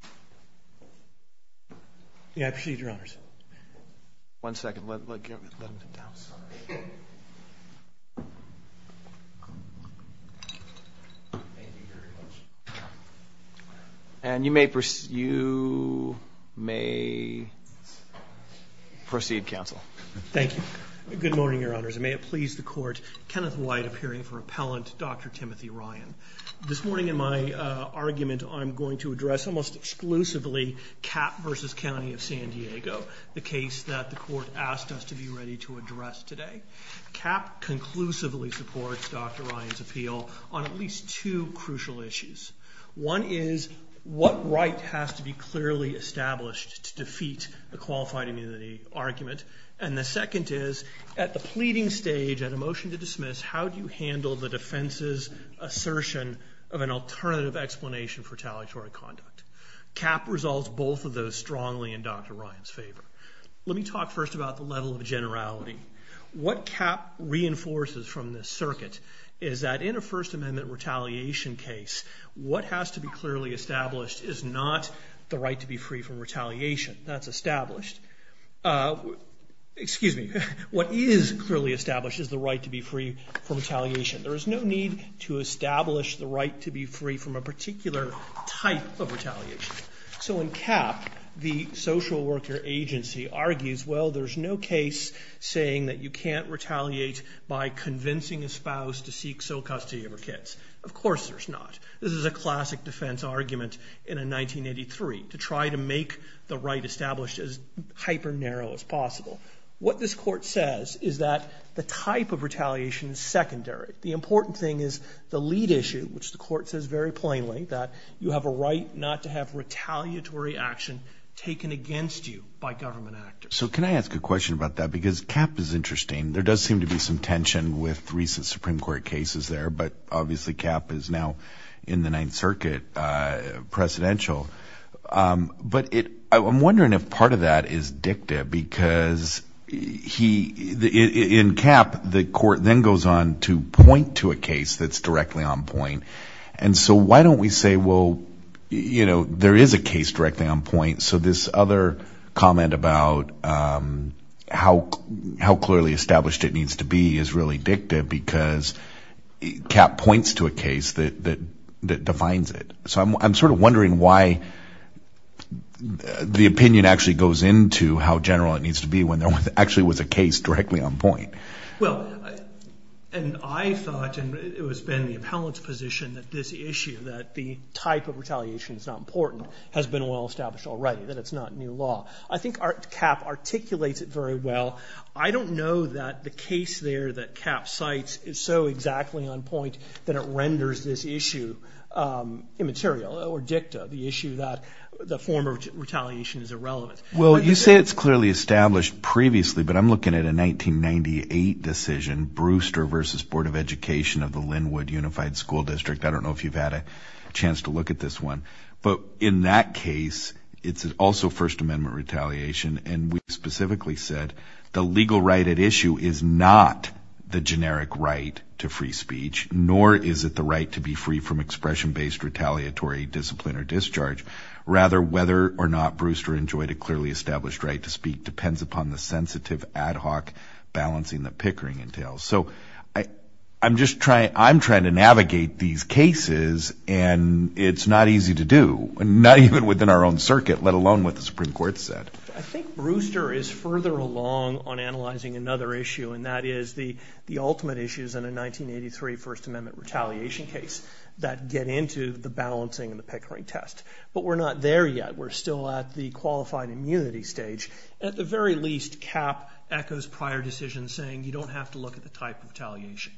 Good morning, Your Honors, and may it please the Court, Kenneth White appearing for Appellant Dr. Timothy Ryan. This morning in my argument I'm going to address almost exclusively CAP v. County of San Diego, the case that the Court asked us to be ready to address today. CAP conclusively supports Dr. Ryan's appeal on at least two crucial issues. One is, what right has to be clearly established to defeat a qualified immunity argument? And the second is, at the pleading stage, at a motion to dismiss, how do you handle the defense's assertion of an alternative explanation for retaliatory conduct? CAP resolves both of those strongly in Dr. Ryan's favor. Let me talk first about the level of generality. What CAP reinforces from this circuit is that in a First Amendment retaliation case, what has to be clearly established is not the right to be free from retaliation. That's established. Excuse me. What is clearly established is the right to be free from retaliation. There is no need to establish the right to be free from a particular type of retaliation. So in CAP, the social worker agency argues, well, there's no case saying that you can't retaliate by convincing a spouse to seek sole custody of her kids. Of course there's not. This is a classic defense argument in a 1983 to try to make the right established as hyper-narrow as possible. What this court says is that the type of retaliation is secondary. The important thing is the lead issue, which the court says very plainly, that you have a right not to have retaliatory action taken against you by government actors. So can I ask a question about that? Because CAP is interesting. There does seem to be some tension with recent Supreme Court cases there. But obviously, CAP is now in the Ninth Circuit presidential. But I'm wondering if part of that is dicta because he in CAP, the court then goes on to point to a case that's directly on point. And so why don't we say, well, you know, there is a case directly on point. So this other comment about how clearly established it needs to be is really dicta because CAP points to a case that defines it. So I'm sort of wondering why the opinion actually goes into how general it needs to be when there actually was a case directly on point. Well, and I thought and it has been the appellant's position that this issue, that the type of retaliation is not important, has been well established already, that it's not new law. I think CAP articulates it very well. I don't know that the case there that CAP cites is so exactly on point that it renders this issue immaterial or dicta, the issue that the form of retaliation is irrelevant. Well, you say it's clearly established previously, but I'm looking at a 1998 decision Brewster versus Board of Education of the Linwood Unified School District. I don't know if you've had a chance to look at this one. But in that case, it's also First Amendment retaliation. And we specifically said the legal right at issue is not the generic right to free speech, nor is it the right to be free from expression-based retaliatory discipline or discharge. Rather, whether or not Brewster enjoyed a clearly established right to speak depends upon the sensitive ad hoc balancing that Pickering entails. So I'm just trying to navigate these cases, and it's not easy to do, not even within our own circuit, let alone what the Supreme Court said. I think Brewster is further along on analyzing another issue, and that is the ultimate issues in a 1983 First Amendment retaliation case that get into the balancing and the Pickering test. But we're not there yet. We're still at the qualified immunity stage. At the very least, CAP echoes prior decisions saying you don't have to look at the type of retaliation.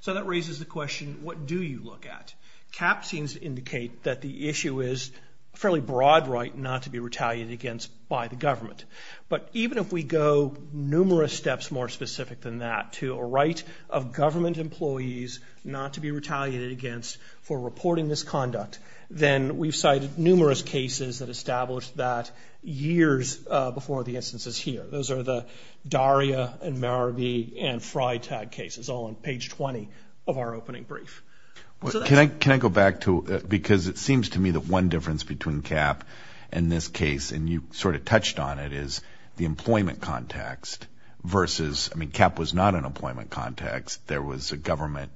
So that raises the question, what do you look at? CAP seems to indicate that the issue is a fairly broad right not to be retaliated against by the government. But even if we go numerous steps more specific than that to a right of government employees not to be retaliated against for reporting this conduct, then we've cited numerous cases that established that years before the instances here. Those are the Daria and Marabee and Frye tag cases, all on page 20 of our opening brief. Can I go back to it? Because it seems to me that one difference between CAP and this case, and you sort of touched on it, is the employment context versus, I mean, CAP was not an employment context. There was a government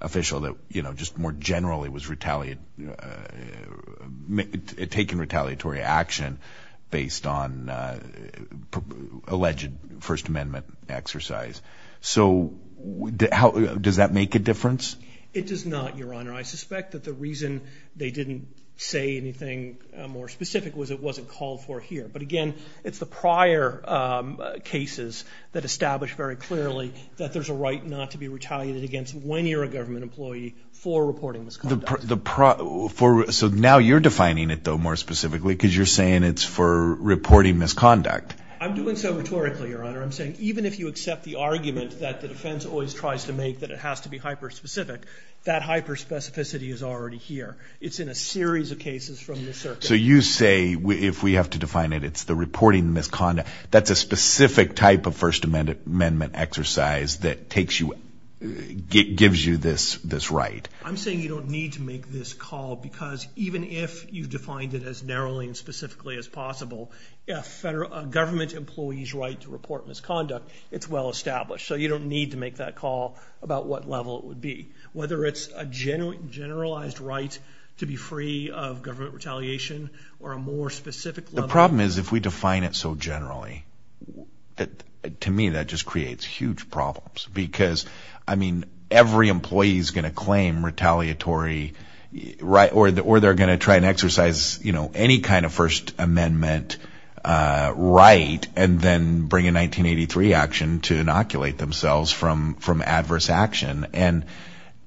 official that, you know, just more generally was taking retaliatory action based on alleged First Amendment exercise. So does that make a difference? It does not, Your Honor. I suspect that the reason they didn't say anything more specific was it wasn't called for here. But, again, it's the prior cases that establish very clearly that there's a right not to be retaliated against when you're a government employee for reporting this conduct. So now you're defining it, though, more specifically because you're saying it's for reporting misconduct. I'm doing so rhetorically, Your Honor. I'm saying even if you accept the argument that the defense always tries to make that it has to be hyper-specific, that hyper-specificity is already here. It's in a series of cases from this circuit. So you say if we have to define it, it's the reporting of misconduct. That's a specific type of First Amendment exercise that gives you this right. I'm saying you don't need to make this call because even if you defined it as narrowly and specifically as possible, if a government employee's right to report misconduct, it's well established. So you don't need to make that call about what level it would be, whether it's a generalized right to be free of government retaliation or a more specific level. The problem is if we define it so generally, to me that just creates huge problems because, I mean, every employee is going to claim retaliatory right or they're going to try and exercise, you know, any kind of First Amendment right and then bring a 1983 action to inoculate themselves from adverse action. And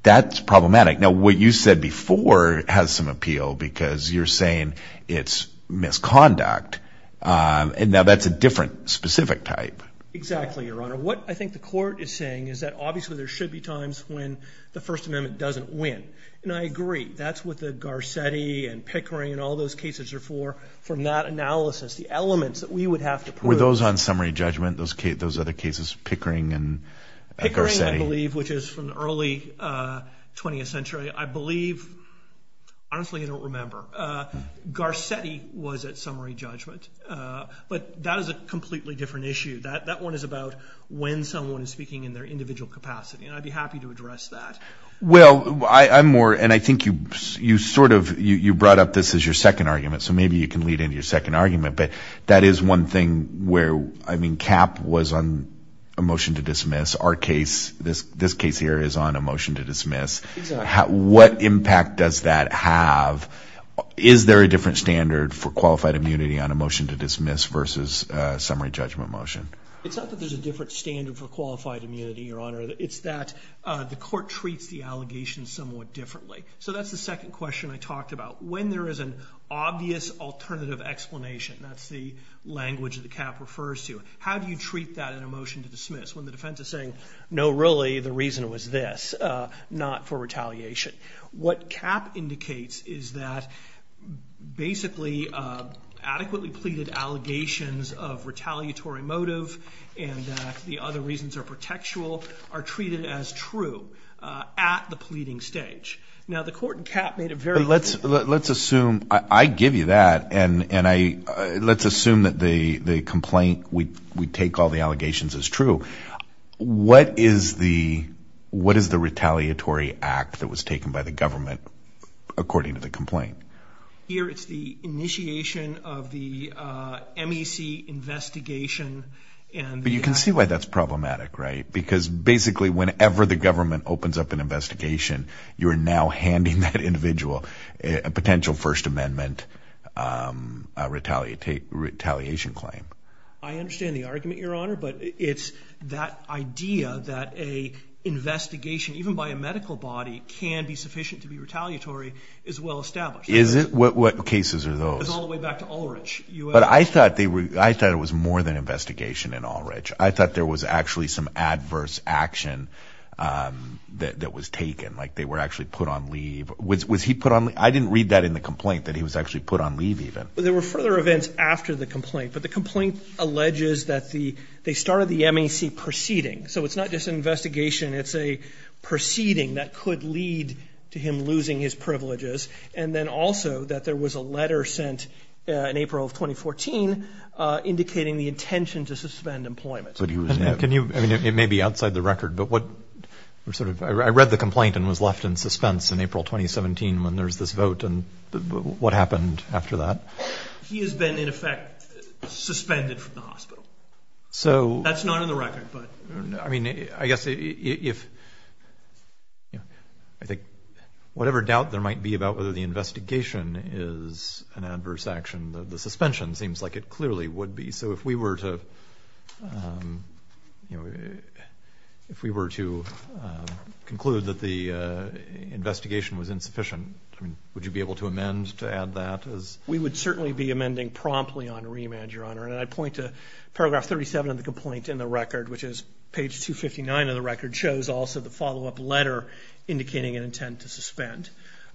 that's problematic. Now, what you said before has some appeal because you're saying it's misconduct. And now that's a different specific type. Exactly, Your Honor. What I think the court is saying is that obviously there should be times when the First Amendment doesn't win. And I agree. That's what the Garcetti and Pickering and all those cases are for. From that analysis, the elements that we would have to prove. Were those on summary judgment, those other cases, Pickering and Garcetti? Pickering, I believe, which is from the early 20th century, I believe. Honestly, I don't remember. Garcetti was at summary judgment. But that is a completely different issue. That one is about when someone is speaking in their individual capacity. And I'd be happy to address that. Well, I'm more, and I think you sort of, you brought up this as your second argument, so maybe you can lead into your second argument. But that is one thing where, I mean, CAP was on a motion to dismiss. Our case, this case here, is on a motion to dismiss. Exactly. What impact does that have? Is there a different standard for qualified immunity on a motion to dismiss versus a summary judgment motion? It's not that there's a different standard for qualified immunity, Your Honor. It's that the court treats the allegations somewhat differently. So that's the second question I talked about. When there is an obvious alternative explanation, that's the language that the CAP refers to, how do you treat that in a motion to dismiss? When the defense is saying, no, really, the reason was this, not for retaliation. What CAP indicates is that, basically, adequately pleaded allegations of retaliatory motive and that the other reasons are protectual are treated as true at the pleading stage. Now, the court in CAP made it very clear. Let's assume, I give you that, and let's assume that the complaint, we take all the allegations as true. What is the retaliatory act that was taken by the government according to the complaint? Here, it's the initiation of the MEC investigation. But you can see why that's problematic, right? Because, basically, whenever the government opens up an investigation, you're now handing that individual a potential First Amendment retaliation claim. I understand the argument, Your Honor, but it's that idea that an investigation, even by a medical body, can be sufficient to be retaliatory is well established. Is it? What cases are those? It's all the way back to Ulrich. But I thought it was more than an investigation in Ulrich. I thought there was actually some adverse action that was taken, like they were actually put on leave. I didn't read that in the complaint, that he was actually put on leave, even. There were further events after the complaint, but the complaint alleges that they started the MEC proceeding. So it's not just an investigation. It's a proceeding that could lead to him losing his privileges, and then also that there was a letter sent in April of 2014 indicating the intention to suspend employment. It may be outside the record, but I read the complaint and was left in suspense in April 2017 when there was this vote. What happened after that? He has been, in effect, suspended from the hospital. That's not in the record. I mean, I guess if whatever doubt there might be about whether the investigation is an adverse action, the suspension seems like it clearly would be. So if we were to conclude that the investigation was insufficient, would you be able to amend to add that? We would certainly be amending promptly on remand, Your Honor. And I point to paragraph 37 of the complaint in the record, which is page 259 of the record, shows also the follow-up letter indicating an intent to suspend.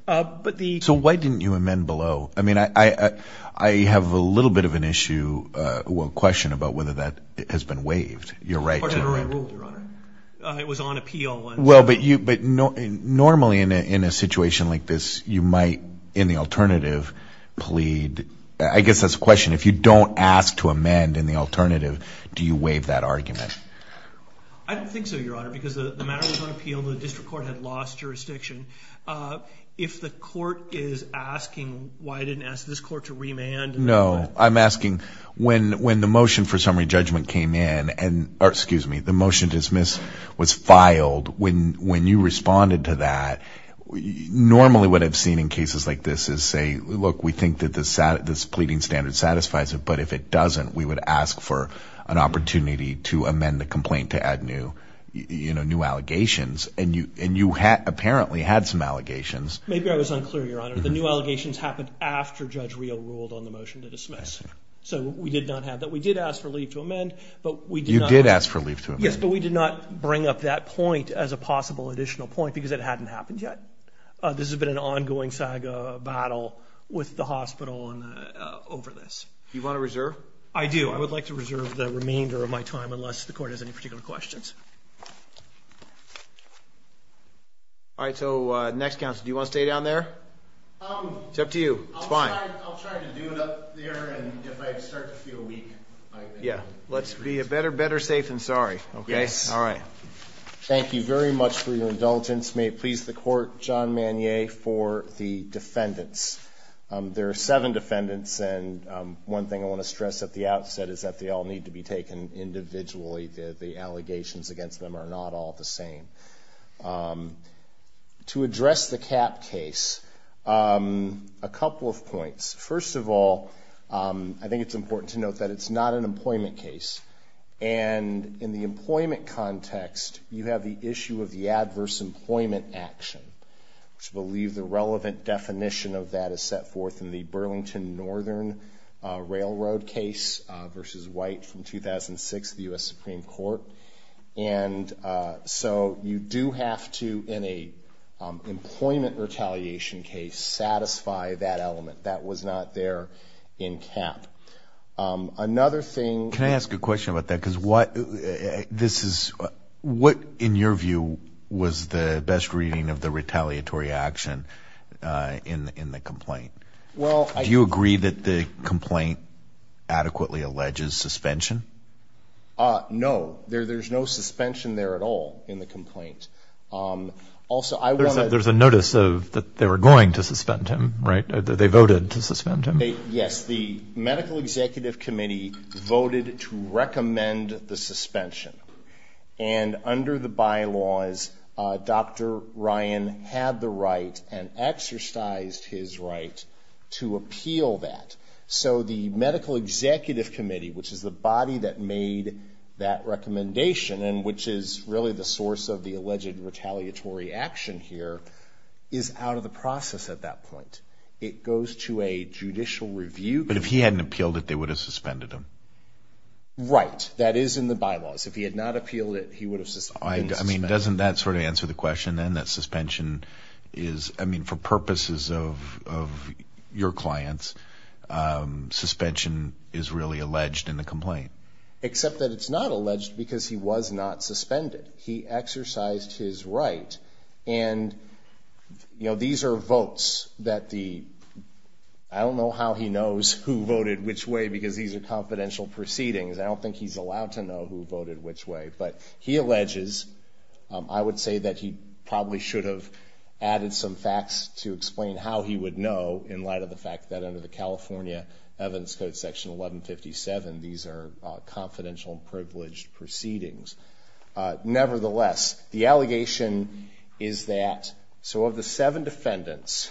So why didn't you amend below? I mean, I have a little bit of an issue or question about whether that has been waived. Your Honor, it was on appeal. Well, but normally in a situation like this, you might, in the alternative, plead, I guess that's a question, if you don't ask to amend in the alternative, do you waive that argument? I don't think so, Your Honor, because the matter was on appeal. The district court had lost jurisdiction. If the court is asking why I didn't ask this court to remand. No, I'm asking when the motion for summary judgment came in, or excuse me, the motion to dismiss was filed, when you responded to that, normally what I've seen in cases like this is say, look, we think that this pleading standard satisfies it, but if it doesn't, we would ask for an opportunity to amend the complaint to add new allegations. And you apparently had some allegations. Maybe I was unclear, Your Honor. The new allegations happened after Judge Reel ruled on the motion to dismiss. So we did not have that. We did ask for leave to amend, but we did not. You did ask for leave to amend. Yes, but we did not bring up that point as a possible additional point because it hadn't happened yet. This has been an ongoing saga battle with the hospital over this. Do you want to reserve? I do. I would like to reserve the remainder of my time unless the court has any particular questions. All right, so next counsel, do you want to stay down there? It's up to you. It's fine. I'll try to do it up there, and if I start to feel weak. Yeah, let's be better safe than sorry. Yes. All right. Thank you very much for your indulgence. May it please the court, John Manier for the defendants. There are seven defendants, and one thing I want to stress at the outset is that they all need to be taken individually. The allegations against them are not all the same. To address the CAP case, a couple of points. First of all, I think it's important to note that it's not an employment case. And in the employment context, you have the issue of the adverse employment action, which I believe the relevant definition of that is set forth in the Burlington Northern Railroad case versus White from 2006, the U.S. Supreme Court. And so you do have to, in an employment retaliation case, satisfy that element. That was not there in CAP. Another thing. Can I ask a question about that? Because what, in your view, was the best reading of the retaliatory action in the complaint? Do you agree that the complaint adequately alleges suspension? No. There's no suspension there at all in the complaint. Also, I want to. There's a notice that they were going to suspend him, right? They voted to suspend him? Yes. The Medical Executive Committee voted to recommend the suspension. And under the bylaws, Dr. Ryan had the right and exercised his right to appeal that. So the Medical Executive Committee, which is the body that made that recommendation and which is really the source of the alleged retaliatory action here, is out of the process at that point. It goes to a judicial review. But if he hadn't appealed it, they would have suspended him? Right. That is in the bylaws. If he had not appealed it, he would have been suspended. I mean, doesn't that sort of answer the question, then, that suspension is, I mean, for purposes of your clients, suspension is really alleged in the complaint? Except that it's not alleged because he was not suspended. He exercised his right. And, you know, these are votes that the, I don't know how he knows who voted which way because these are confidential proceedings. I don't think he's allowed to know who voted which way. But he alleges, I would say that he probably should have added some facts to explain how he would know in light of the fact that under the California Evidence Code, Section 1157, these are confidential and privileged proceedings. Nevertheless, the allegation is that, so of the seven defendants,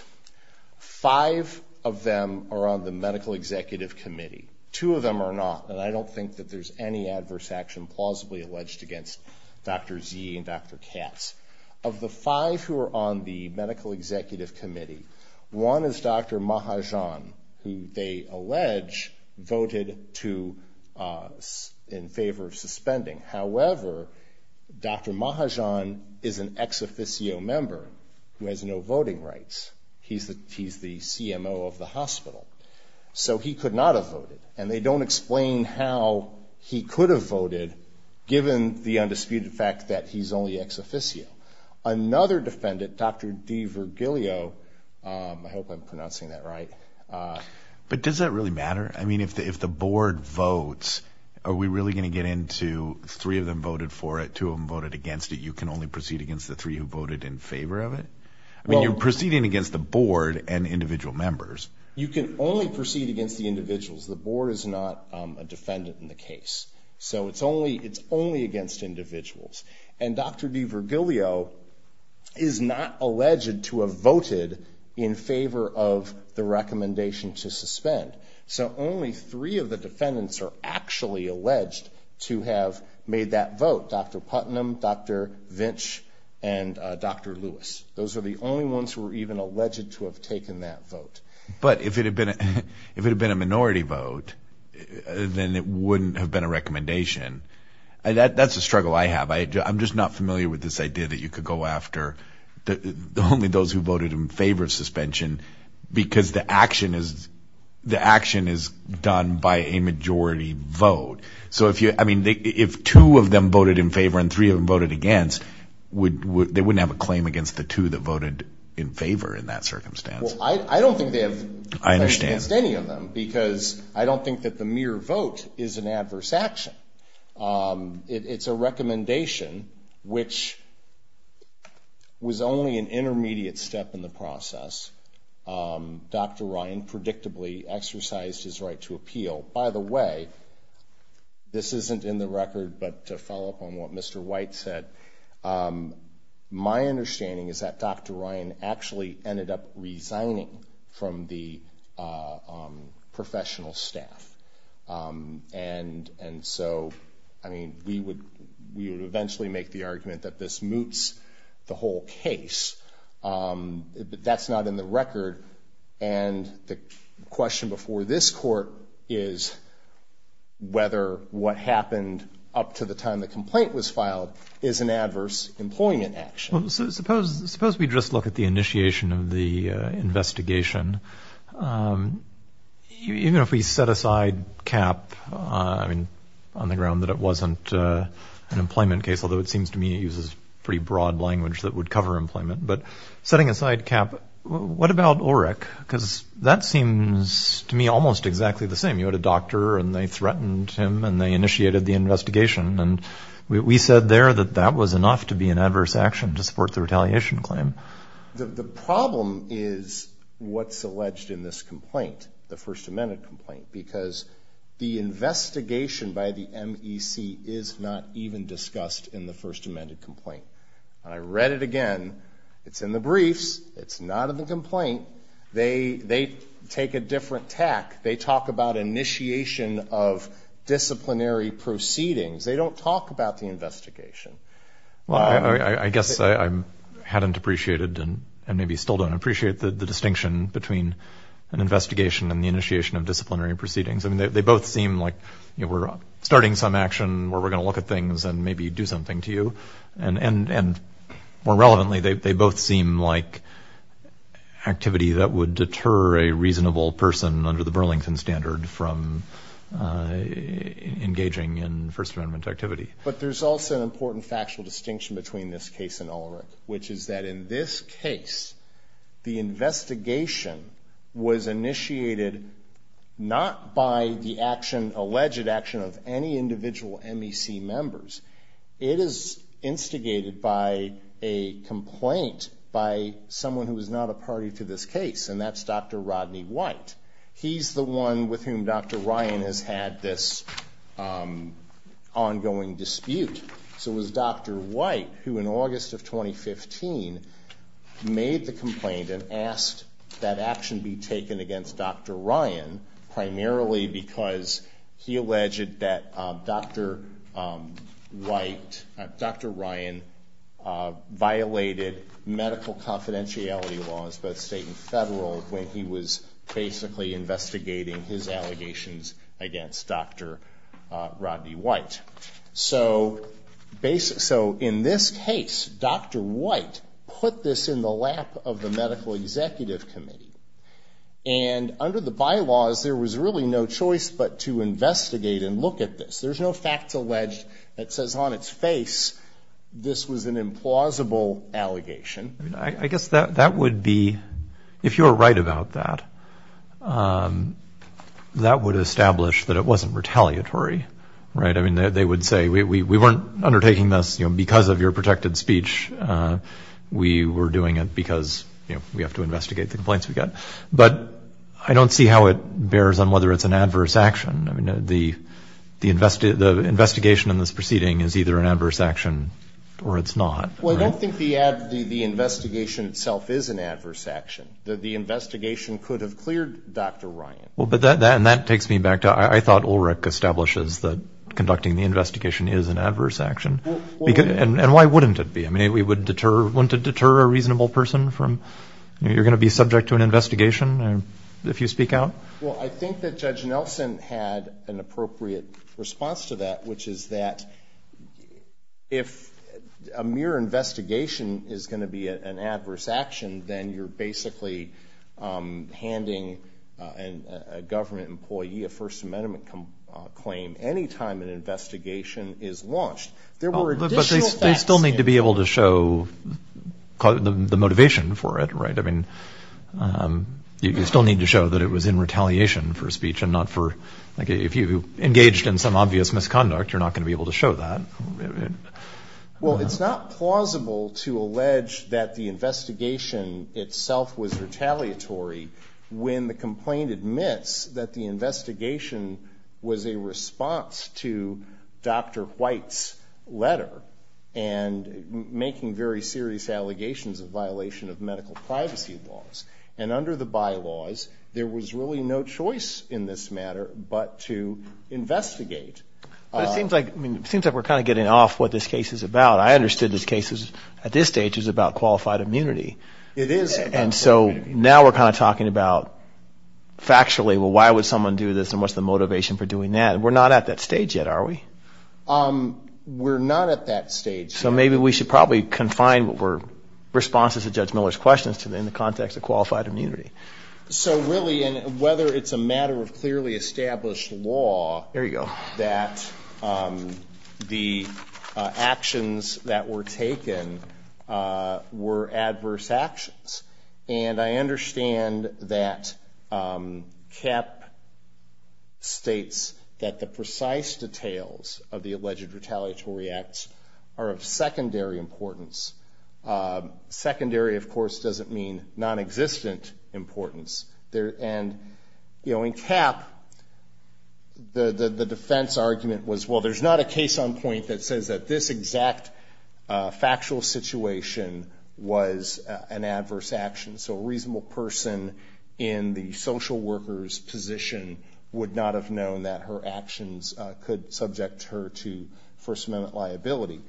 five of them are on the Medical Executive Committee. Two of them are not. And I don't think that there's any adverse action plausibly alleged against Dr. Z and Dr. Katz. Of the five who are on the Medical Executive Committee, one is Dr. Mahajan, who they allege voted to, in favor of suspending. However, Dr. Mahajan is an ex officio member who has no voting rights. He's the CMO of the hospital. So he could not have voted. And they don't explain how he could have voted, given the undisputed fact that he's only ex officio. Another defendant, Dr. DeVirgilio, I hope I'm pronouncing that right. But does that really matter? I mean, if the board votes, are we really going to get into three of them voted for it, two of them voted against it, you can only proceed against the three who voted in favor of it? I mean, you're proceeding against the board and individual members. You can only proceed against the individuals. The board is not a defendant in the case. So it's only against individuals. And Dr. DeVirgilio is not alleged to have voted in favor of the recommendation to suspend. So only three of the defendants are actually alleged to have made that vote, Dr. Putnam, Dr. Vinch, and Dr. Lewis. Those are the only ones who are even alleged to have taken that vote. But if it had been a minority vote, then it wouldn't have been a recommendation. That's a struggle I have. I'm just not familiar with this idea that you could go after only those who the action is done by a majority vote. So if two of them voted in favor and three of them voted against, they wouldn't have a claim against the two that voted in favor in that circumstance. Well, I don't think they have a claim against any of them because I don't think that the mere vote is an adverse action. It's a recommendation which was only an intermediate step in the process. Dr. Ryan predictably exercised his right to appeal. By the way, this isn't in the record, but to follow up on what Mr. White said, my understanding is that Dr. Ryan actually ended up resigning from the professional staff. And so, I mean, we would eventually make the argument that this moots the whole case. But that's not in the record. And the question before this court is whether what happened up to the time the complaint was filed is an adverse employment action. Suppose we just look at the initiation of the investigation. Even if we set aside cap on the ground that it wasn't an employment case, although it seems to me it uses pretty broad language that would cover employment. But setting aside cap, what about Ulrich? Because that seems to me almost exactly the same. You had a doctor and they threatened him and they initiated the investigation. And we said there that that was enough to be an adverse action to support the retaliation claim. The problem is what's alleged in this complaint, the First Amendment complaint, because the investigation by the MEC is not even discussed in the First Amendment complaint. And I read it again. It's in the briefs. It's not in the complaint. They take a different tack. They talk about initiation of disciplinary proceedings. They don't talk about the investigation. Well, I guess I hadn't appreciated and maybe still don't appreciate the distinction between an investigation and the initiation of disciplinary proceedings. I mean, they both seem like we're starting some action where we're going to look at things and maybe do something to you. And more relevantly, they both seem like activity that would deter a reasonable person under the Burlington standard from engaging in First Amendment activity. But there's also an important factual distinction between this case and Ulrich, which is that in this case the investigation was initiated not by the action, alleged action of any individual MEC members. It is instigated by a complaint by someone who is not a party to this case, and that's Dr. Rodney White. He's the one with whom Dr. Ryan has had this ongoing dispute. So it was Dr. White who, in August of 2015, made the complaint and asked that action be taken against Dr. Ryan primarily because he alleged that Dr. White, Dr. Ryan violated medical confidentiality laws, both state and federal, when he was basically investigating his allegations against Dr. Rodney White. So in this case, Dr. White put this in the lap of the Medical Executive Committee. And under the bylaws, there was really no choice but to investigate and look at this. There's no facts alleged that says on its face this was an implausible allegation. I guess that would be, if you're right about that, that would establish that it wasn't retaliatory. Right? I mean, they would say, we weren't undertaking this because of your protected speech. We were doing it because we have to investigate the complaints we got. But I don't see how it bears on whether it's an adverse action. I mean, the investigation in this proceeding is either an adverse action or it's not. Well, I don't think the investigation itself is an adverse action. The investigation could have cleared Dr. Ryan. And that takes me back to I thought Ulrich establishes that conducting the investigation is an adverse action. And why wouldn't it be? I mean, wouldn't it deter a reasonable person from, you know, you're going to be subject to an investigation if you speak out? Well, I think that Judge Nelson had an appropriate response to that, which is that if a mere investigation is going to be an adverse action, then you're basically handing a government employee a First Amendment claim any time an investigation is launched. But they still need to be able to show the motivation for it, right? I mean, you still need to show that it was in retaliation for speech and not for, like, if you engaged in some obvious misconduct, you're not going to be able to show that. Well, it's not plausible to allege that the investigation itself was retaliatory when the complaint admits that the investigation was a response to Dr. White's letter and making very serious allegations of violation of medical privacy laws. And under the bylaws, there was really no choice in this matter but to investigate. But it seems like we're kind of getting off what this case is about. I understood this case at this stage is about qualified immunity. It is. And so now we're kind of talking about factually, well, why would someone do this and what's the motivation for doing that? We're not at that stage yet, are we? We're not at that stage. So maybe we should probably confine responses to Judge Miller's questions in the context of qualified immunity. So really, whether it's a matter of clearly established law that the actions that were taken were adverse actions, and I understand that Kapp states that the precise details of the alleged retaliatory acts are of secondary importance. Secondary, of course, doesn't mean nonexistent importance. And in Kapp, the defense argument was, well, there's not a case on point that says that this exact factual situation was an adverse action. So a reasonable person in the social worker's position would not have known that her actions could subject her to First Amendment liability.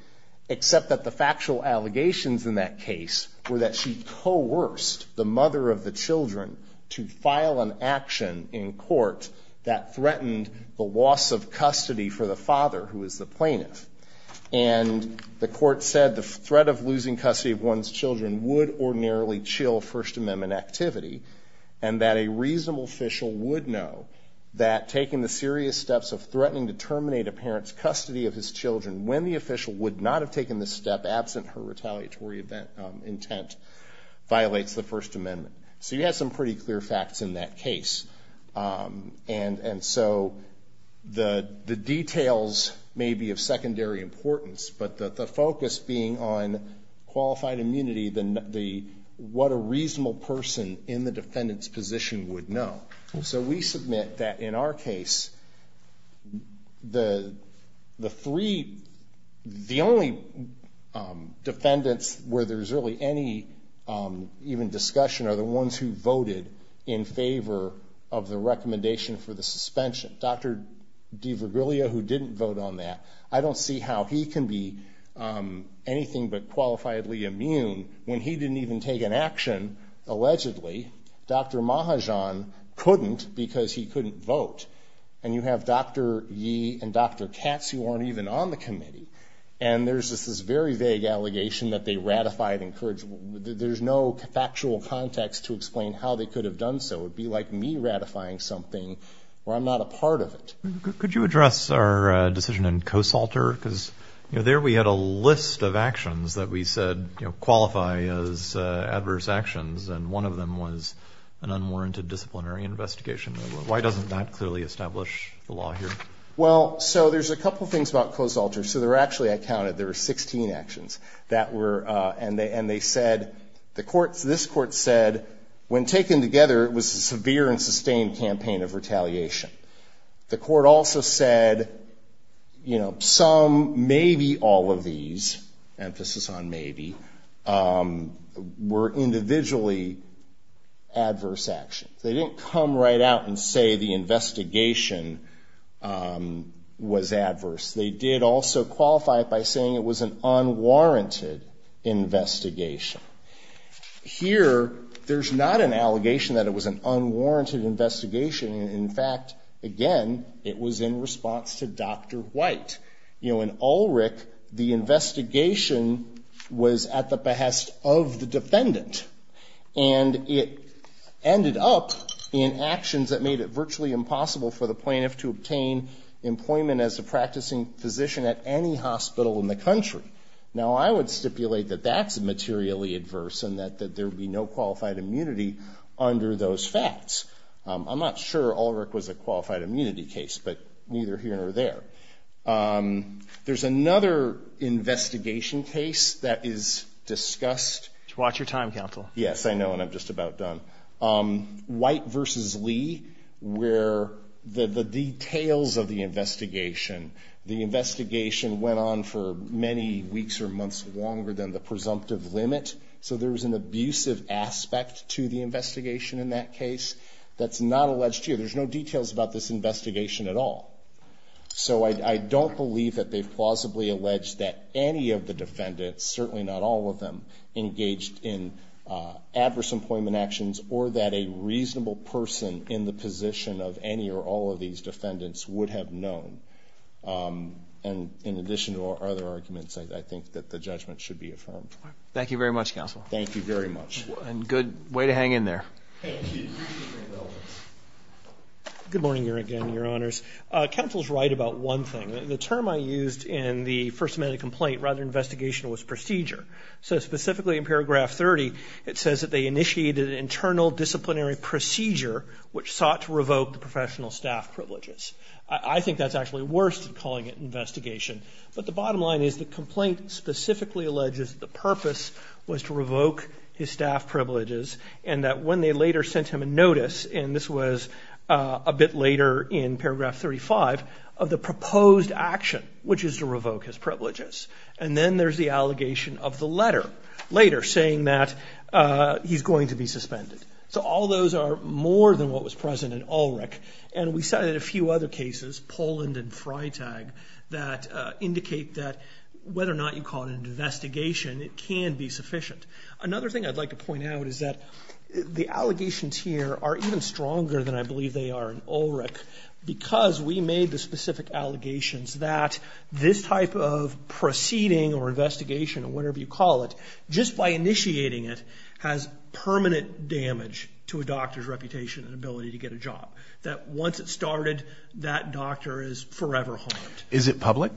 Except that the factual allegations in that case were that she coerced the mother of the children to file an action in court that threatened the loss of custody for the father, who is the plaintiff. And the court said the threat of losing custody of one's children would ordinarily chill First Amendment activity, and that a reasonable official would know that taking the serious steps of threatening to terminate a parent's custody of his children, when the official would not have taken the step absent her retaliatory intent, violates the First Amendment. So you had some pretty clear facts in that case. And so the details may be of secondary importance, but the focus being on qualified immunity, what a reasonable person in the defendant's position would know. So we submit that in our case, the three, the only defendants where there's really any even discussion are the ones who voted in favor of the recommendation for the suspension. Dr. DiVirgilio, who didn't vote on that, I don't see how he can be anything but qualifiably immune when he didn't even take an action, allegedly. Dr. Mahajan couldn't because he couldn't vote. And you have Dr. Yee and Dr. Katz who aren't even on the committee. And there's just this very vague allegation that they ratified and encouraged. There's no factual context to explain how they could have done so. It would be like me ratifying something where I'm not a part of it. Could you address our decision in Kosalter? Because, you know, there we had a list of actions that we said qualify as adverse actions, and one of them was an unwarranted disciplinary investigation. Why doesn't that clearly establish the law here? Well, so there's a couple things about Kosalter. So there were actually, I counted, there were 16 actions. And they said, the courts, this court said, when taken together, it was a severe and sustained campaign of retaliation. The court also said, you know, some, maybe all of these, emphasis on maybe, were individually adverse actions. They didn't come right out and say the investigation was adverse. They did also qualify it by saying it was an unwarranted investigation. Here, there's not an allegation that it was an unwarranted investigation. In fact, again, it was in response to Dr. White. You know, in Ulrich, the investigation was at the behest of the defendant. And it ended up in actions that made it virtually impossible for the plaintiff to obtain employment as a practicing physician at any hospital in the country. Now, I would stipulate that that's materially adverse and that there would be no qualified immunity under those facts. I'm not sure Ulrich was a qualified immunity case, but neither here nor there. There's another investigation case that is discussed. Watch your time, counsel. Yes, I know, and I'm just about done. White v. Lee, where the details of the investigation, the investigation went on for many weeks or months longer than the presumptive limit. So there was an abusive aspect to the investigation in that case that's not alleged here. There's no details about this investigation at all. So I don't believe that they've plausibly alleged that any of the defendants, certainly not all of them, engaged in adverse employment actions or that a reasonable person in the position of any or all of these defendants would have known. And in addition to other arguments, I think that the judgment should be affirmed. Thank you very much, counsel. Thank you very much. And good way to hang in there. Thank you. Good morning here again, Your Honors. Counsel's right about one thing. The term I used in the first amendment complaint rather than investigation was procedure. So specifically in paragraph 30, it says that they initiated an internal disciplinary procedure, which sought to revoke the professional staff privileges. I think that's actually worse than calling it investigation. But the bottom line is the complaint specifically alleges the purpose was to revoke his staff privileges and that when they later sent him a notice, and this was a bit later in paragraph 35, of the proposed action, which is to revoke his privileges. And then there's the allegation of the letter later saying that he's going to be suspended. So all those are more than what was present in Ulrich. And we cited a few other cases, Poland and Freitag, that indicate that whether or not you call it an investigation, it can be sufficient. Another thing I'd like to point out is that the allegations here are even stronger than I believe they are in Ulrich because we made the specific allegations that this type of proceeding or investigation or whatever you call it, just by initiating it, has permanent damage to a doctor's reputation and ability to get a job. That once it started, that doctor is forever harmed. Is it public?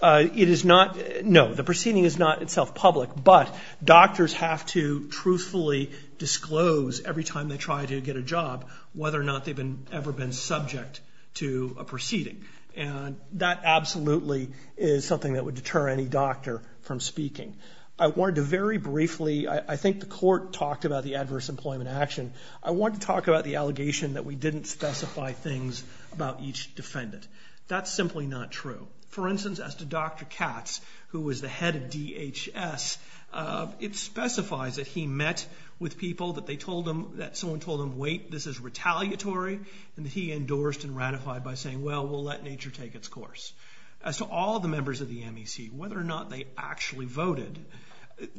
It is not. No, the proceeding is not itself public. But doctors have to truthfully disclose every time they try to get a job whether or not they've ever been subject to a proceeding. And that absolutely is something that would deter any doctor from speaking. I wanted to very briefly, I think the court talked about the adverse employment action, I wanted to talk about the allegation that we didn't specify things about each defendant. That's simply not true. For instance, as to Dr. Katz, who was the head of DHS, it specifies that he met with people, that someone told him, wait, this is retaliatory, and that he endorsed and ratified by saying, well, we'll let nature take its course. As to all the members of the MEC, whether or not they actually voted,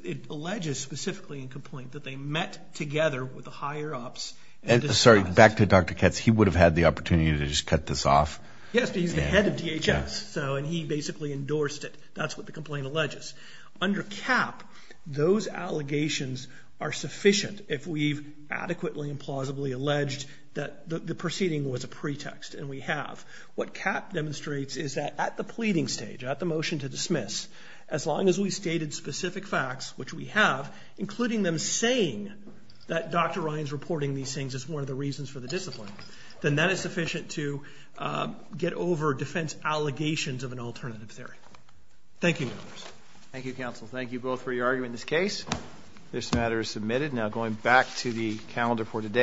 it alleges specifically in complaint that they met together with the higher-ups. Sorry, back to Dr. Katz, he would have had the opportunity to just cut this off? Yes, but he's the head of DHS, and he basically endorsed it. That's what the complaint alleges. Under CAP, those allegations are sufficient if we've adequately and plausibly alleged that the proceeding was a pretext, and we have. What CAP demonstrates is that at the pleading stage, at the motion to dismiss, as long as we've stated specific facts, which we have, including them saying that Dr. Ryan's reporting these things as one of the reasons for the discipline, then that is sufficient to get over defense allegations of an alternative theory. Thank you, members. Thank you, counsel. Thank you both for your argument in this case. This matter is submitted. Now going back to the calendar for today.